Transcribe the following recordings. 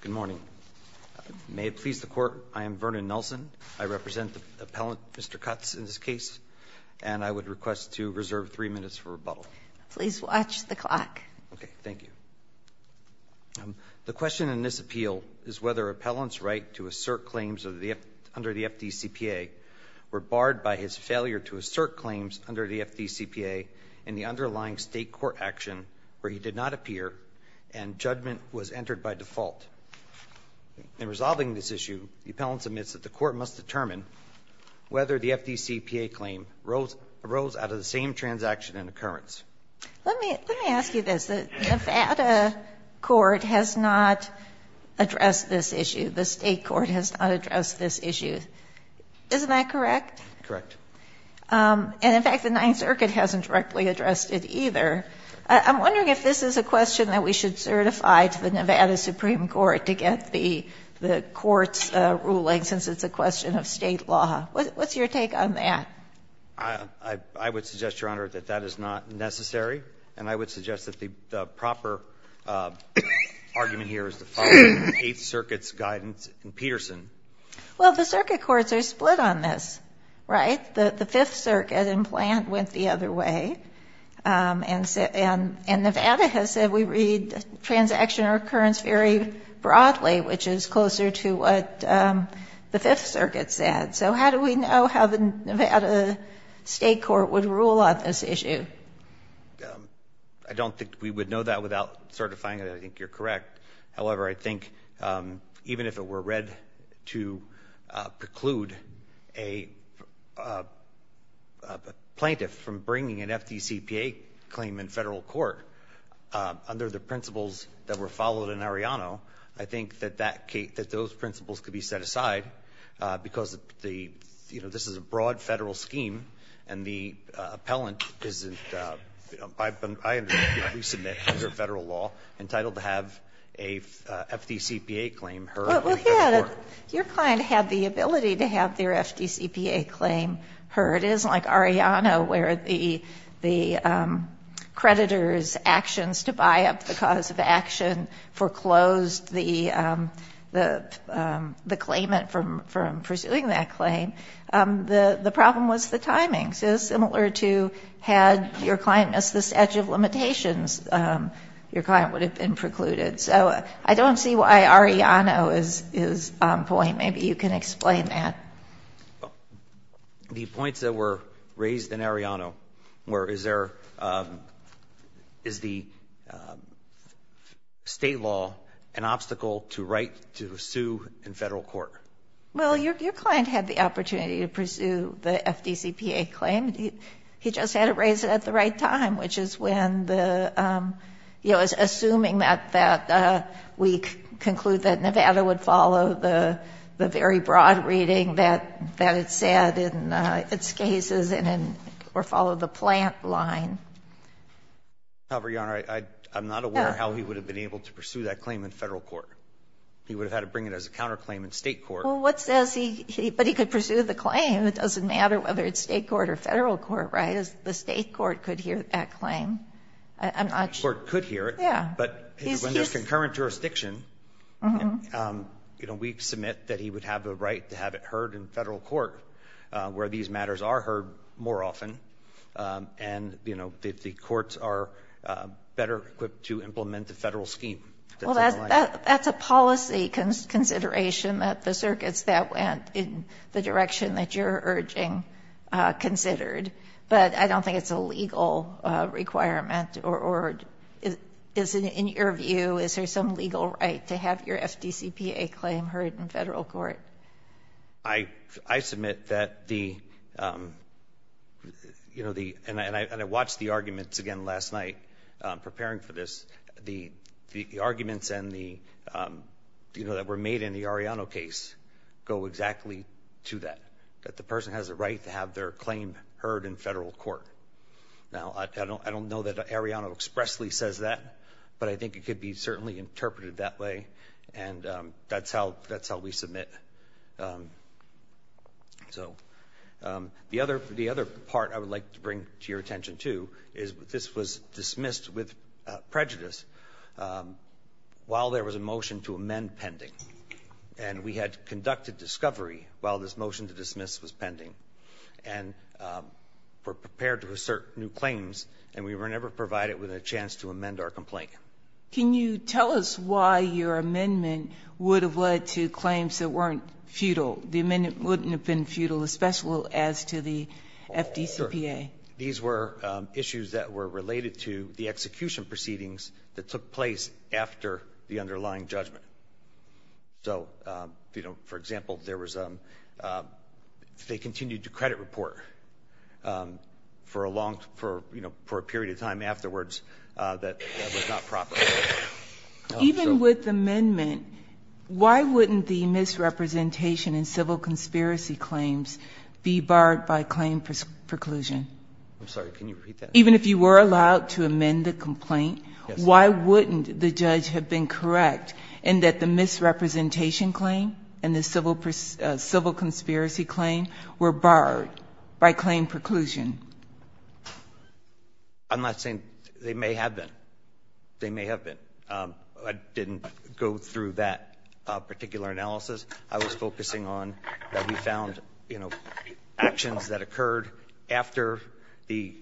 Good morning. May it please the Court, I am Vernon Nelson. I represent the appellant, Mr. Cutts, in this case. And I would request to reserve three minutes for rebuttal. Please watch the clock. Okay, thank you. The question in this appeal is whether appellant's right to assert claims under the FDCPA were barred by his failure to assert claims under the FDCPA in the underlying state court action where he did not appear and judgment was entered by default. In resolving this issue, the appellant submits that the Court must determine whether the FDCPA claim arose out of the same transaction and occurrence. Let me ask you this. The Nevada court has not addressed this issue. The state court has not addressed this issue. Isn't that correct? Correct. And, in fact, the Ninth Circuit hasn't directly addressed it either. I'm wondering if this is a question that we should certify to the Nevada Supreme Court to get the court's ruling, since it's a question of state law. What's your take on that? I would suggest, Your Honor, that that is not necessary. And I would suggest that the proper argument here is the following Eighth Circuit's guidance in Peterson. Well, the circuit courts are split on this, right? The Fifth Circuit in plant went the other way. And Nevada has said we read transaction or occurrence very broadly, which is closer to what the Fifth Circuit said. So how do we know how the Nevada state court would rule on this issue? I don't think we would know that without certifying it. I think you're correct. However, I think even if it were read to preclude a plaintiff from bringing an FDCPA claim in Federal court under the principles that were followed in Arellano, I think that those principles could be set aside, because, you know, this is a broad Federal scheme, and the appellant is, you know, I understand, resubmit under Federal law entitled to have a FDCPA claim heard in Federal court. Your client had the ability to have their FDCPA claim heard. It isn't like Arellano where the creditor's actions to buy up the cause of action foreclosed the claimant from pursuing that claim. The problem was the timing. So similar to had your client missed this edge of limitations, your client would have been precluded. So I don't see why Arellano is on point. Maybe you can explain that. The points that were raised in Arellano were is there the state law an obstacle to right to sue in Federal court? Well, your client had the opportunity to pursue the FDCPA claim. He just had it raised at the right time, which is when the, you know, assuming that that we conclude that Nevada would follow the very broad reading that it said in its cases and then followed the plant line. However, Your Honor, I'm not aware how he would have been able to pursue that claim in Federal court. He would have had to bring it as a counterclaim in State court. Well, what says he, but he could pursue the claim. It doesn't matter whether it's State court or Federal court, right? The State court could hear that claim. I'm not sure. The State court could hear it. Yeah. But when there's concurrent jurisdiction, you know, we submit that he would have the right to have it heard in Federal court where these matters are heard more often and, you know, the courts are better equipped to implement the Federal scheme. Well, that's a policy consideration that the circuits that went in the direction that you're urging considered, but I don't think it's a legal requirement or is it in your view, is there some legal right to have your FDCPA claim heard in Federal court? I submit that the, you know, the, and I watched the arguments again last night preparing for this. The arguments and the, you know, that were made in the Arellano case go exactly to that, that the person has a right to have their claim heard in Federal court. Now, I don't know that Arellano expressly says that, but I think it could be certainly interpreted that way, and that's how we submit. So the other part I would like to bring to your attention too is this was dismissed with prejudice while there was a motion to amend pending. And we had conducted discovery while this motion to dismiss was pending and were prepared to assert new claims, and we were never provided with a chance to amend our complaint. Can you tell us why your amendment would have led to claims that weren't futile? The amendment wouldn't have been futile, especially as to the FDCPA. These were issues that were related to the execution proceedings that took place after the underlying judgment. So, you know, for example, there was a they continued to credit report for a long for, you know, for a period of time afterwards that that was not proper. Even with the amendment, why wouldn't the misrepresentation in civil conspiracy claims be barred by claim preclusion? I'm sorry. Can you repeat that? Even if you were allowed to amend the complaint, why wouldn't the judge have been correct in that the misrepresentation claim and the civil conspiracy claim were barred by claim preclusion? I'm not saying they may have been. They may have been. I didn't go through that particular analysis. I was focusing on that we found, you know, actions that occurred after the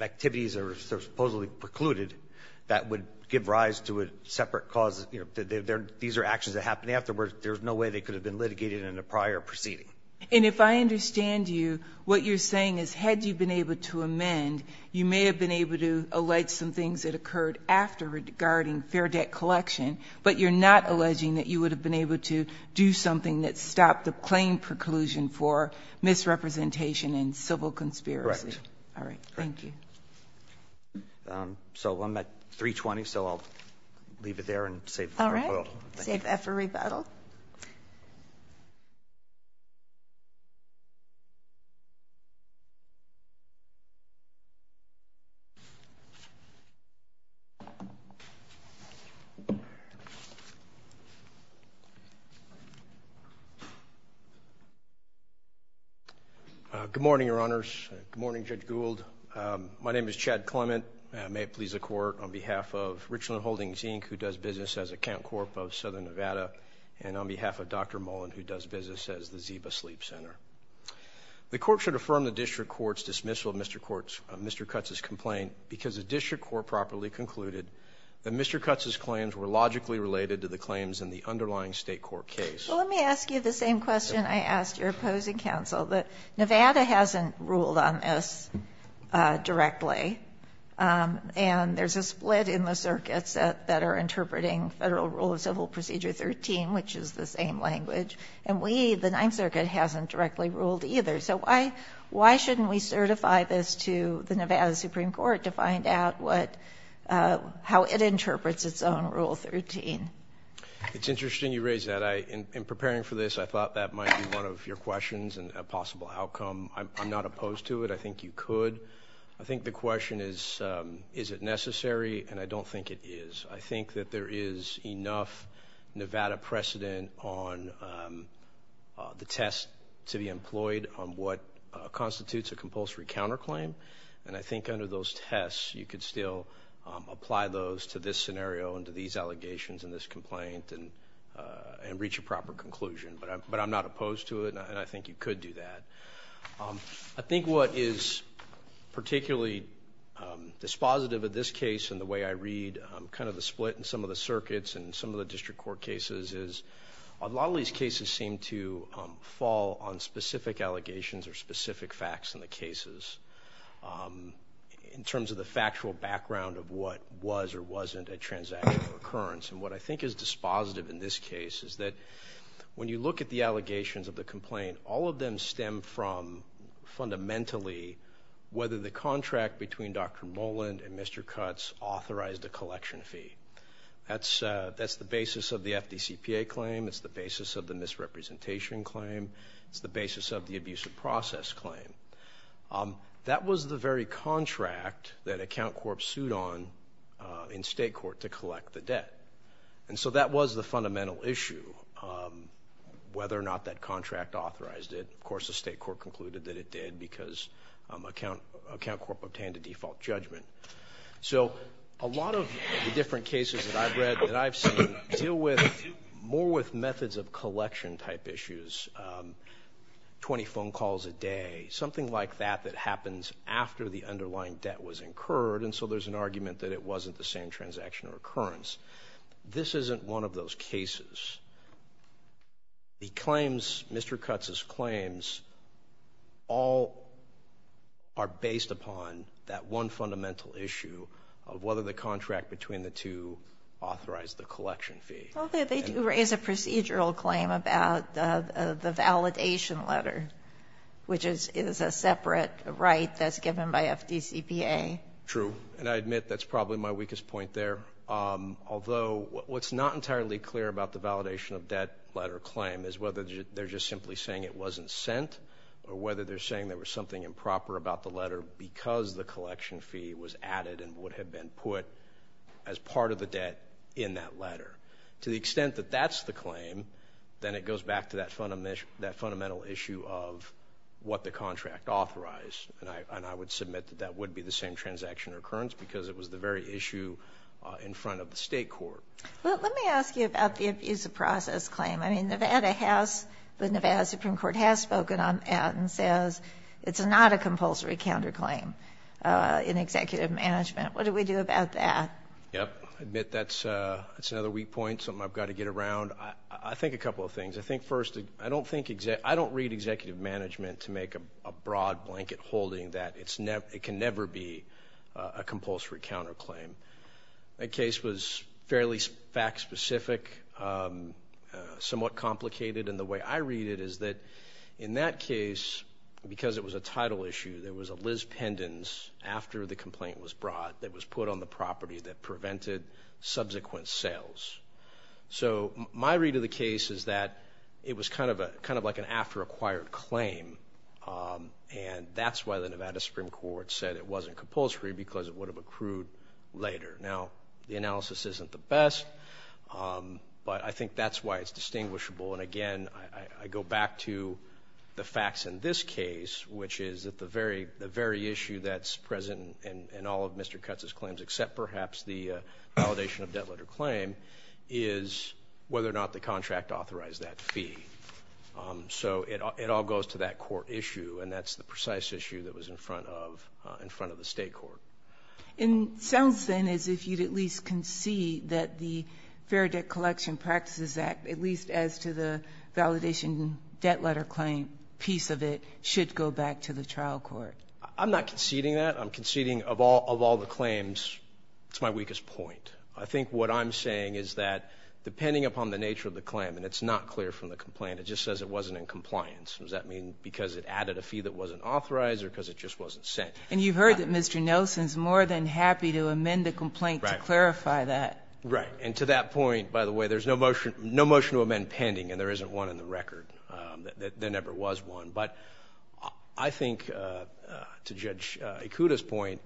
activities are supposedly precluded that would give rise to a separate cause. You know, these are actions that happened afterwards. There's no way they could have been litigated in a prior proceeding. And if I understand you, what you're saying is had you been able to amend, you may have been able to allege some things that occurred after regarding fair debt collection, but you're not alleging that you would have been able to do something that stopped the claim preclusion for misrepresentation and civil conspiracy. Correct. All right. Thank you. So I'm at 320, so I'll leave it there and save the rebuttal. All right. Save that for rebuttal. Thank you. Good morning, Your Honors. Good morning, Judge Gould. My name is Chad Clement. May it please the Court, on behalf of Richland Holdings, Inc., who does business as Account Corp. of Southern Nevada, and on behalf of Dr. Mullen, who does business as the Ziba Sleep Center. The Court should affirm the district court's dismissal of Mr. Cutts' complaint because the district court properly concluded that Mr. Cutts' claims were logically related to the claims in the underlying State court case. Well, let me ask you the same question I asked your opposing counsel, that Nevada hasn't ruled on this directly, and there's a split in the circuits that are interpreting Federal Rule of Civil Procedure 13, which is the same language. And we, the Ninth Circuit, hasn't directly ruled either. So why shouldn't we certify this to the Nevada Supreme Court to find out how it interprets its own Rule 13? It's interesting you raise that. In preparing for this, I thought that might be one of your questions and a possible outcome. I'm not opposed to it. I think you could. I think the question is, is it necessary? And I don't think it is. I think that there is enough Nevada precedent on the test to be employed on what constitutes a compulsory counterclaim. And I think under those tests, you could still apply those to this scenario and to these allegations and this complaint and reach a proper conclusion. But I'm not opposed to it, and I think you could do that. I think what is particularly dispositive of this case and the way I read kind of the split in some of the circuits and some of the district court cases is a lot of these cases seem to fall on specific allegations or specific facts in the cases in terms of the factual background of what was or wasn't a transactional occurrence. And what I think is dispositive in this case is that when you look at the allegations of the complaint, all of them stem from fundamentally whether the contract between Dr. Moland and Mr. Cutts authorized a collection fee. That's the basis of the FDCPA claim. It's the basis of the misrepresentation claim. It's the basis of the abuse of process claim. That was the very contract that Account Corp sued on in state court to collect the debt. And so that was the fundamental issue, whether or not that contract authorized it. Of course, the state court concluded that it did because Account Corp obtained a default judgment. So a lot of the different cases that I've read, that I've seen, deal with more with methods of collection type issues, 20 phone calls a day, something like that that happens after the underlying debt was incurred, and so there's an argument that it wasn't the same transactional occurrence. This isn't one of those cases. The claims, Mr. Cutts' claims, all are based upon that one fundamental issue of whether the contract between the two authorized the collection fee. Well, they do raise a procedural claim about the validation letter, which is a separate right that's given by FDCPA. True. And I admit that's probably my weakest point there. Although what's not entirely clear about the validation of debt letter claim is whether they're just simply saying it wasn't sent or whether they're saying there was something improper about the letter because the collection fee was added and would have been put as part of the debt in that letter. To the extent that that's the claim, then it goes back to that fundamental issue of what the contract authorized. And I would submit that that would be the same transactional occurrence because it was the very issue in front of the state court. Let me ask you about the abuse of process claim. I mean, Nevada has, the Nevada Supreme Court has spoken on that and says it's not a compulsory counterclaim in executive management. What do we do about that? Yep. I admit that's another weak point, something I've got to get around. I think a couple of things. I think first, I don't read executive management to make a broad blanket holding that it can never be a compulsory counterclaim. That case was fairly fact specific, somewhat complicated, and the way I read it is that in that case, because it was a title issue, there was a Liz Pendens after the complaint was brought that was put on the property that prevented subsequent sales. So my read of the case is that it was kind of like an after acquired claim, and that's why the Nevada Supreme Court said it wasn't compulsory because it would have accrued later. Now, the analysis isn't the best, but I think that's why it's distinguishable. And again, I go back to the facts in this case, which is that the very issue that's present in all of Mr. Kutz's claims except perhaps the validation of debt letter claim is whether or not the contract authorized that fee. So it all goes to that court issue, and that's the precise issue that was in front of the state court. It sounds, then, as if you'd at least concede that the Fair Debt Collection Practices Act, at least as to the validation debt letter claim piece of it, should go back to the trial court. I'm not conceding that. I'm conceding of all the claims it's my weakest point. I think what I'm saying is that depending upon the nature of the claim, and it's not clear from the complaint, it just says it wasn't in compliance. Does that mean because it added a fee that wasn't authorized or because it just wasn't sent? And you've heard that Mr. Nelson's more than happy to amend the complaint to clarify that. Right. And to that point, by the way, there's no motion to amend pending, and there isn't one in the record. There never was one. But I think, to Judge Ikuda's point,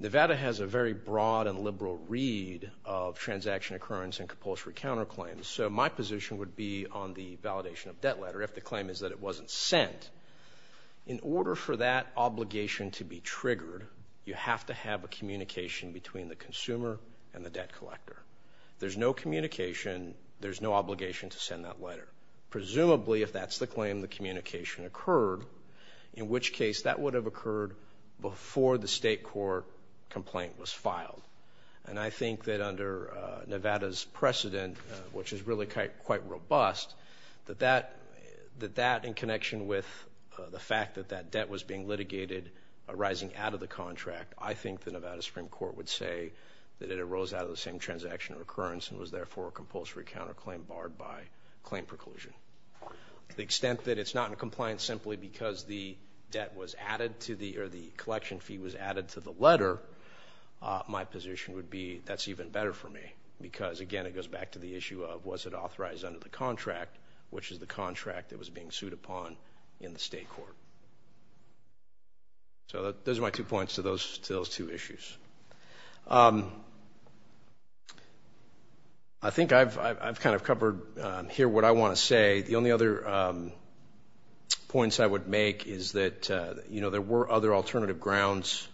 Nevada has a very broad and liberal read of transaction occurrence and compulsory counterclaims. So my position would be on the validation of debt letter if the claim is that it wasn't sent. In order for that obligation to be triggered, you have to have a communication between the consumer and the debt collector. There's no communication. There's no obligation to send that letter. Presumably, if that's the claim, the communication occurred, in which case that would have occurred before the state court complaint was filed. And I think that under Nevada's precedent, which is really quite robust, that that in connection with the fact that that debt was being litigated arising out of the contract, I think the Nevada Supreme Court would say that it arose out of the same transaction occurrence and was, therefore, a compulsory counterclaim barred by claim preclusion. To the extent that it's not in compliance simply because the debt was added to the or the collection fee was added to the letter, my position would be that's even better for me because, again, it goes back to the issue of was it authorized under the contract, which is the contract that was being sued upon in the state court. So those are my two points to those two issues. I think I've kind of covered here what I want to say. The only other points I would make is that, you know, there were other alternative grounds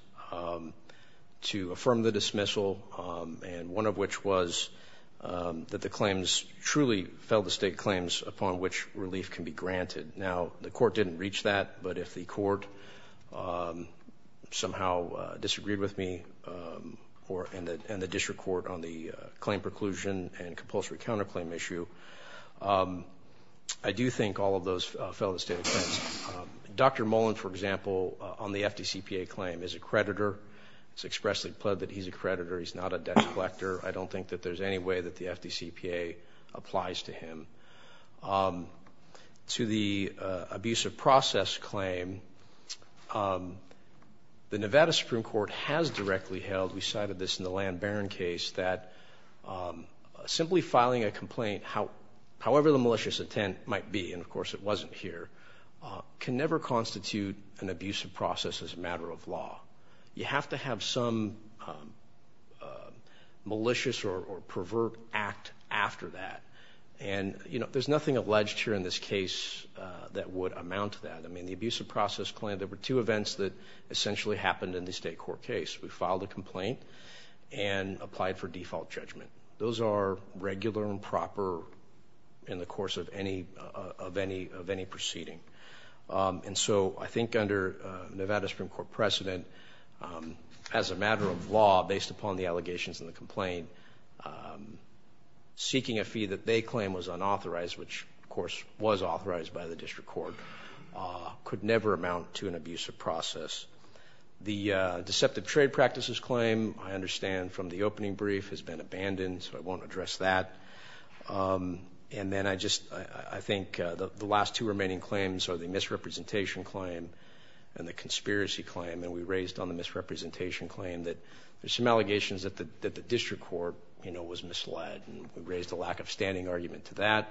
to affirm the dismissal, and one of which was that the claims truly fell to state claims upon which relief can be granted. Now, the court didn't reach that, but if the court somehow disagreed with me and the district court on the claim preclusion and compulsory counterclaim issue, I do think all of those fell to state claims. Dr. Mullen, for example, on the FDCPA claim is a creditor. It's expressly pled that he's a creditor. He's not a debt collector. I don't think that there's any way that the FDCPA applies to him. To the abusive process claim, the Nevada Supreme Court has directly held, we cited this in the Land Baron case, that simply filing a complaint, however the malicious intent might be, and, of course, it wasn't here, can never constitute an abusive process as a matter of law. You have to have some malicious or pervert act after that, and there's nothing alleged here in this case that would amount to that. The abusive process claim, there were two events that essentially happened in the state court case. We filed a complaint and applied for default judgment. Those are regular and proper in the course of any proceeding. And so I think under Nevada Supreme Court precedent, as a matter of law, based upon the allegations and the complaint, seeking a fee that they claim was unauthorized, which, of course, was authorized by the district court, could never amount to an abusive process. The deceptive trade practices claim, I understand from the opening brief, has been abandoned, so I won't address that. And then I think the last two remaining claims are the misrepresentation claim and the conspiracy claim, and we raised on the misrepresentation claim that there's some allegations that the district court was misled and we raised a lack of standing argument to that.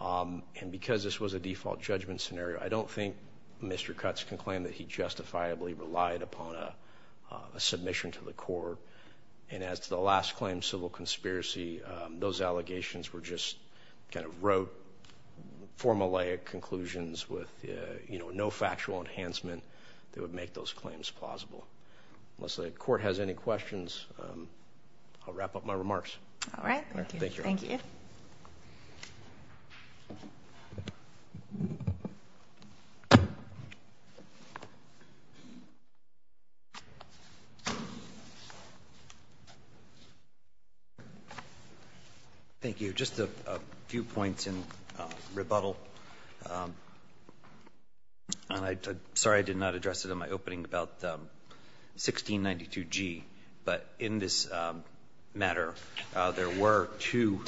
And because this was a default judgment scenario, I don't think Mr. Cutts can claim that he justifiably relied upon a submission to the court. And as to the last claim, civil conspiracy, those allegations were just kind of rote, formulaic conclusions with no factual enhancement that would make those claims plausible. Unless the court has any questions, I'll wrap up my remarks. All right. Thank you. Thank you. Thank you. Just a few points in rebuttal. I'm sorry I did not address it in my opening about 1692G, but in this matter, there were two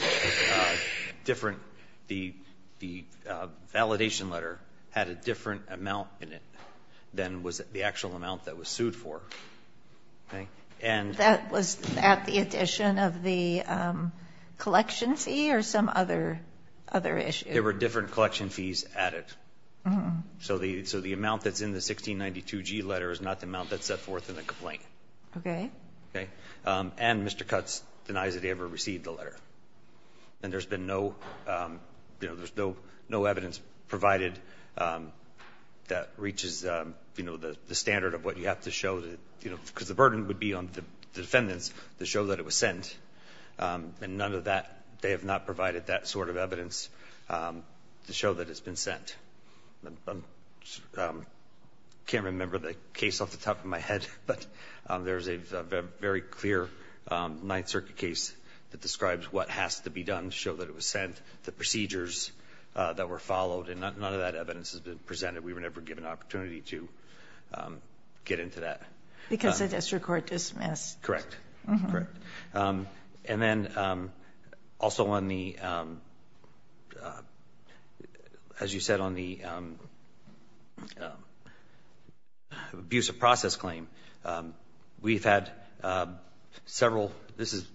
different, the validation letter had a different amount in it than was the actual amount that was sued for. Okay. And that was at the addition of the collection fee or some other issue? There were different collection fees added. So the amount that's in the 1692G letter is not the amount that's set forth in the complaint. Okay. Okay. And Mr. Cutts denies that he ever received the letter. And there's been no, you know, there's no evidence provided that reaches, you know, the standard of what you have to show, you know, because the burden would be on the defendants to show that it was sent. And none of that, they have not provided that sort of evidence to show that it's been sent. I can't remember the case off the top of my head. But there's a very clear Ninth Circuit case that describes what has to be done to show that it was sent, the procedures that were followed. And none of that evidence has been presented. We were never given an opportunity to get into that. Because the district court dismissed. Correct. Correct. And then also on the, as you said, on the abuse of process claim, we've had several, this is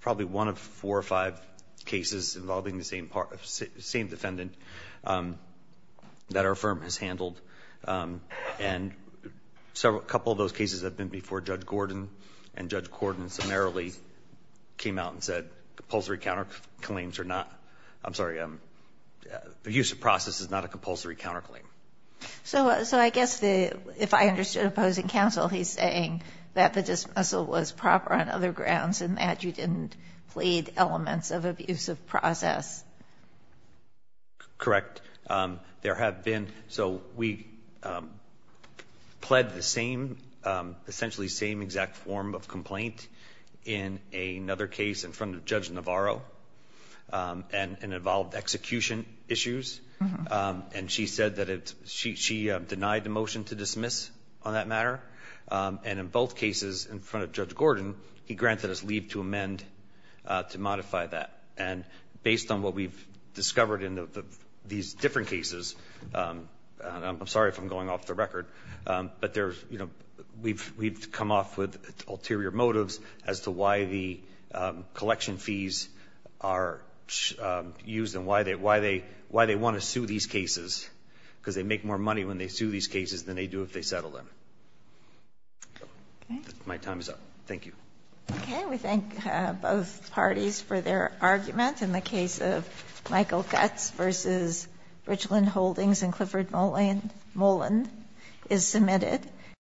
probably one of four or five cases involving the same defendant that our firm has handled. And several, a couple of those cases have been before Judge Gordon, and Judge Gordon summarily came out and said compulsory counterclaims are not, I'm sorry, the use of process is not a compulsory counterclaim. So I guess if I understood opposing counsel, he's saying that the dismissal was proper on other grounds and that you didn't plead elements of abuse of process. Correct. There have been, so we pled the same, essentially same exact form of complaint in another case in front of Judge Navarro and it involved execution issues. And she said that she denied the motion to dismiss on that matter. And in both cases in front of Judge Gordon, he granted us leave to amend to modify that. And based on what we've discovered in these different cases, and I'm sorry if I'm going off the record, but there's, you know, we've come off with ulterior motives as to why the collection fees are used and why they want to sue these cases, because they make more money when they sue these cases than they do if they settle them. My time is up. Thank you. Okay. We thank both parties for their argument. In the case of Michael Guts v. Richland Holdings and Clifford Moland is submitted.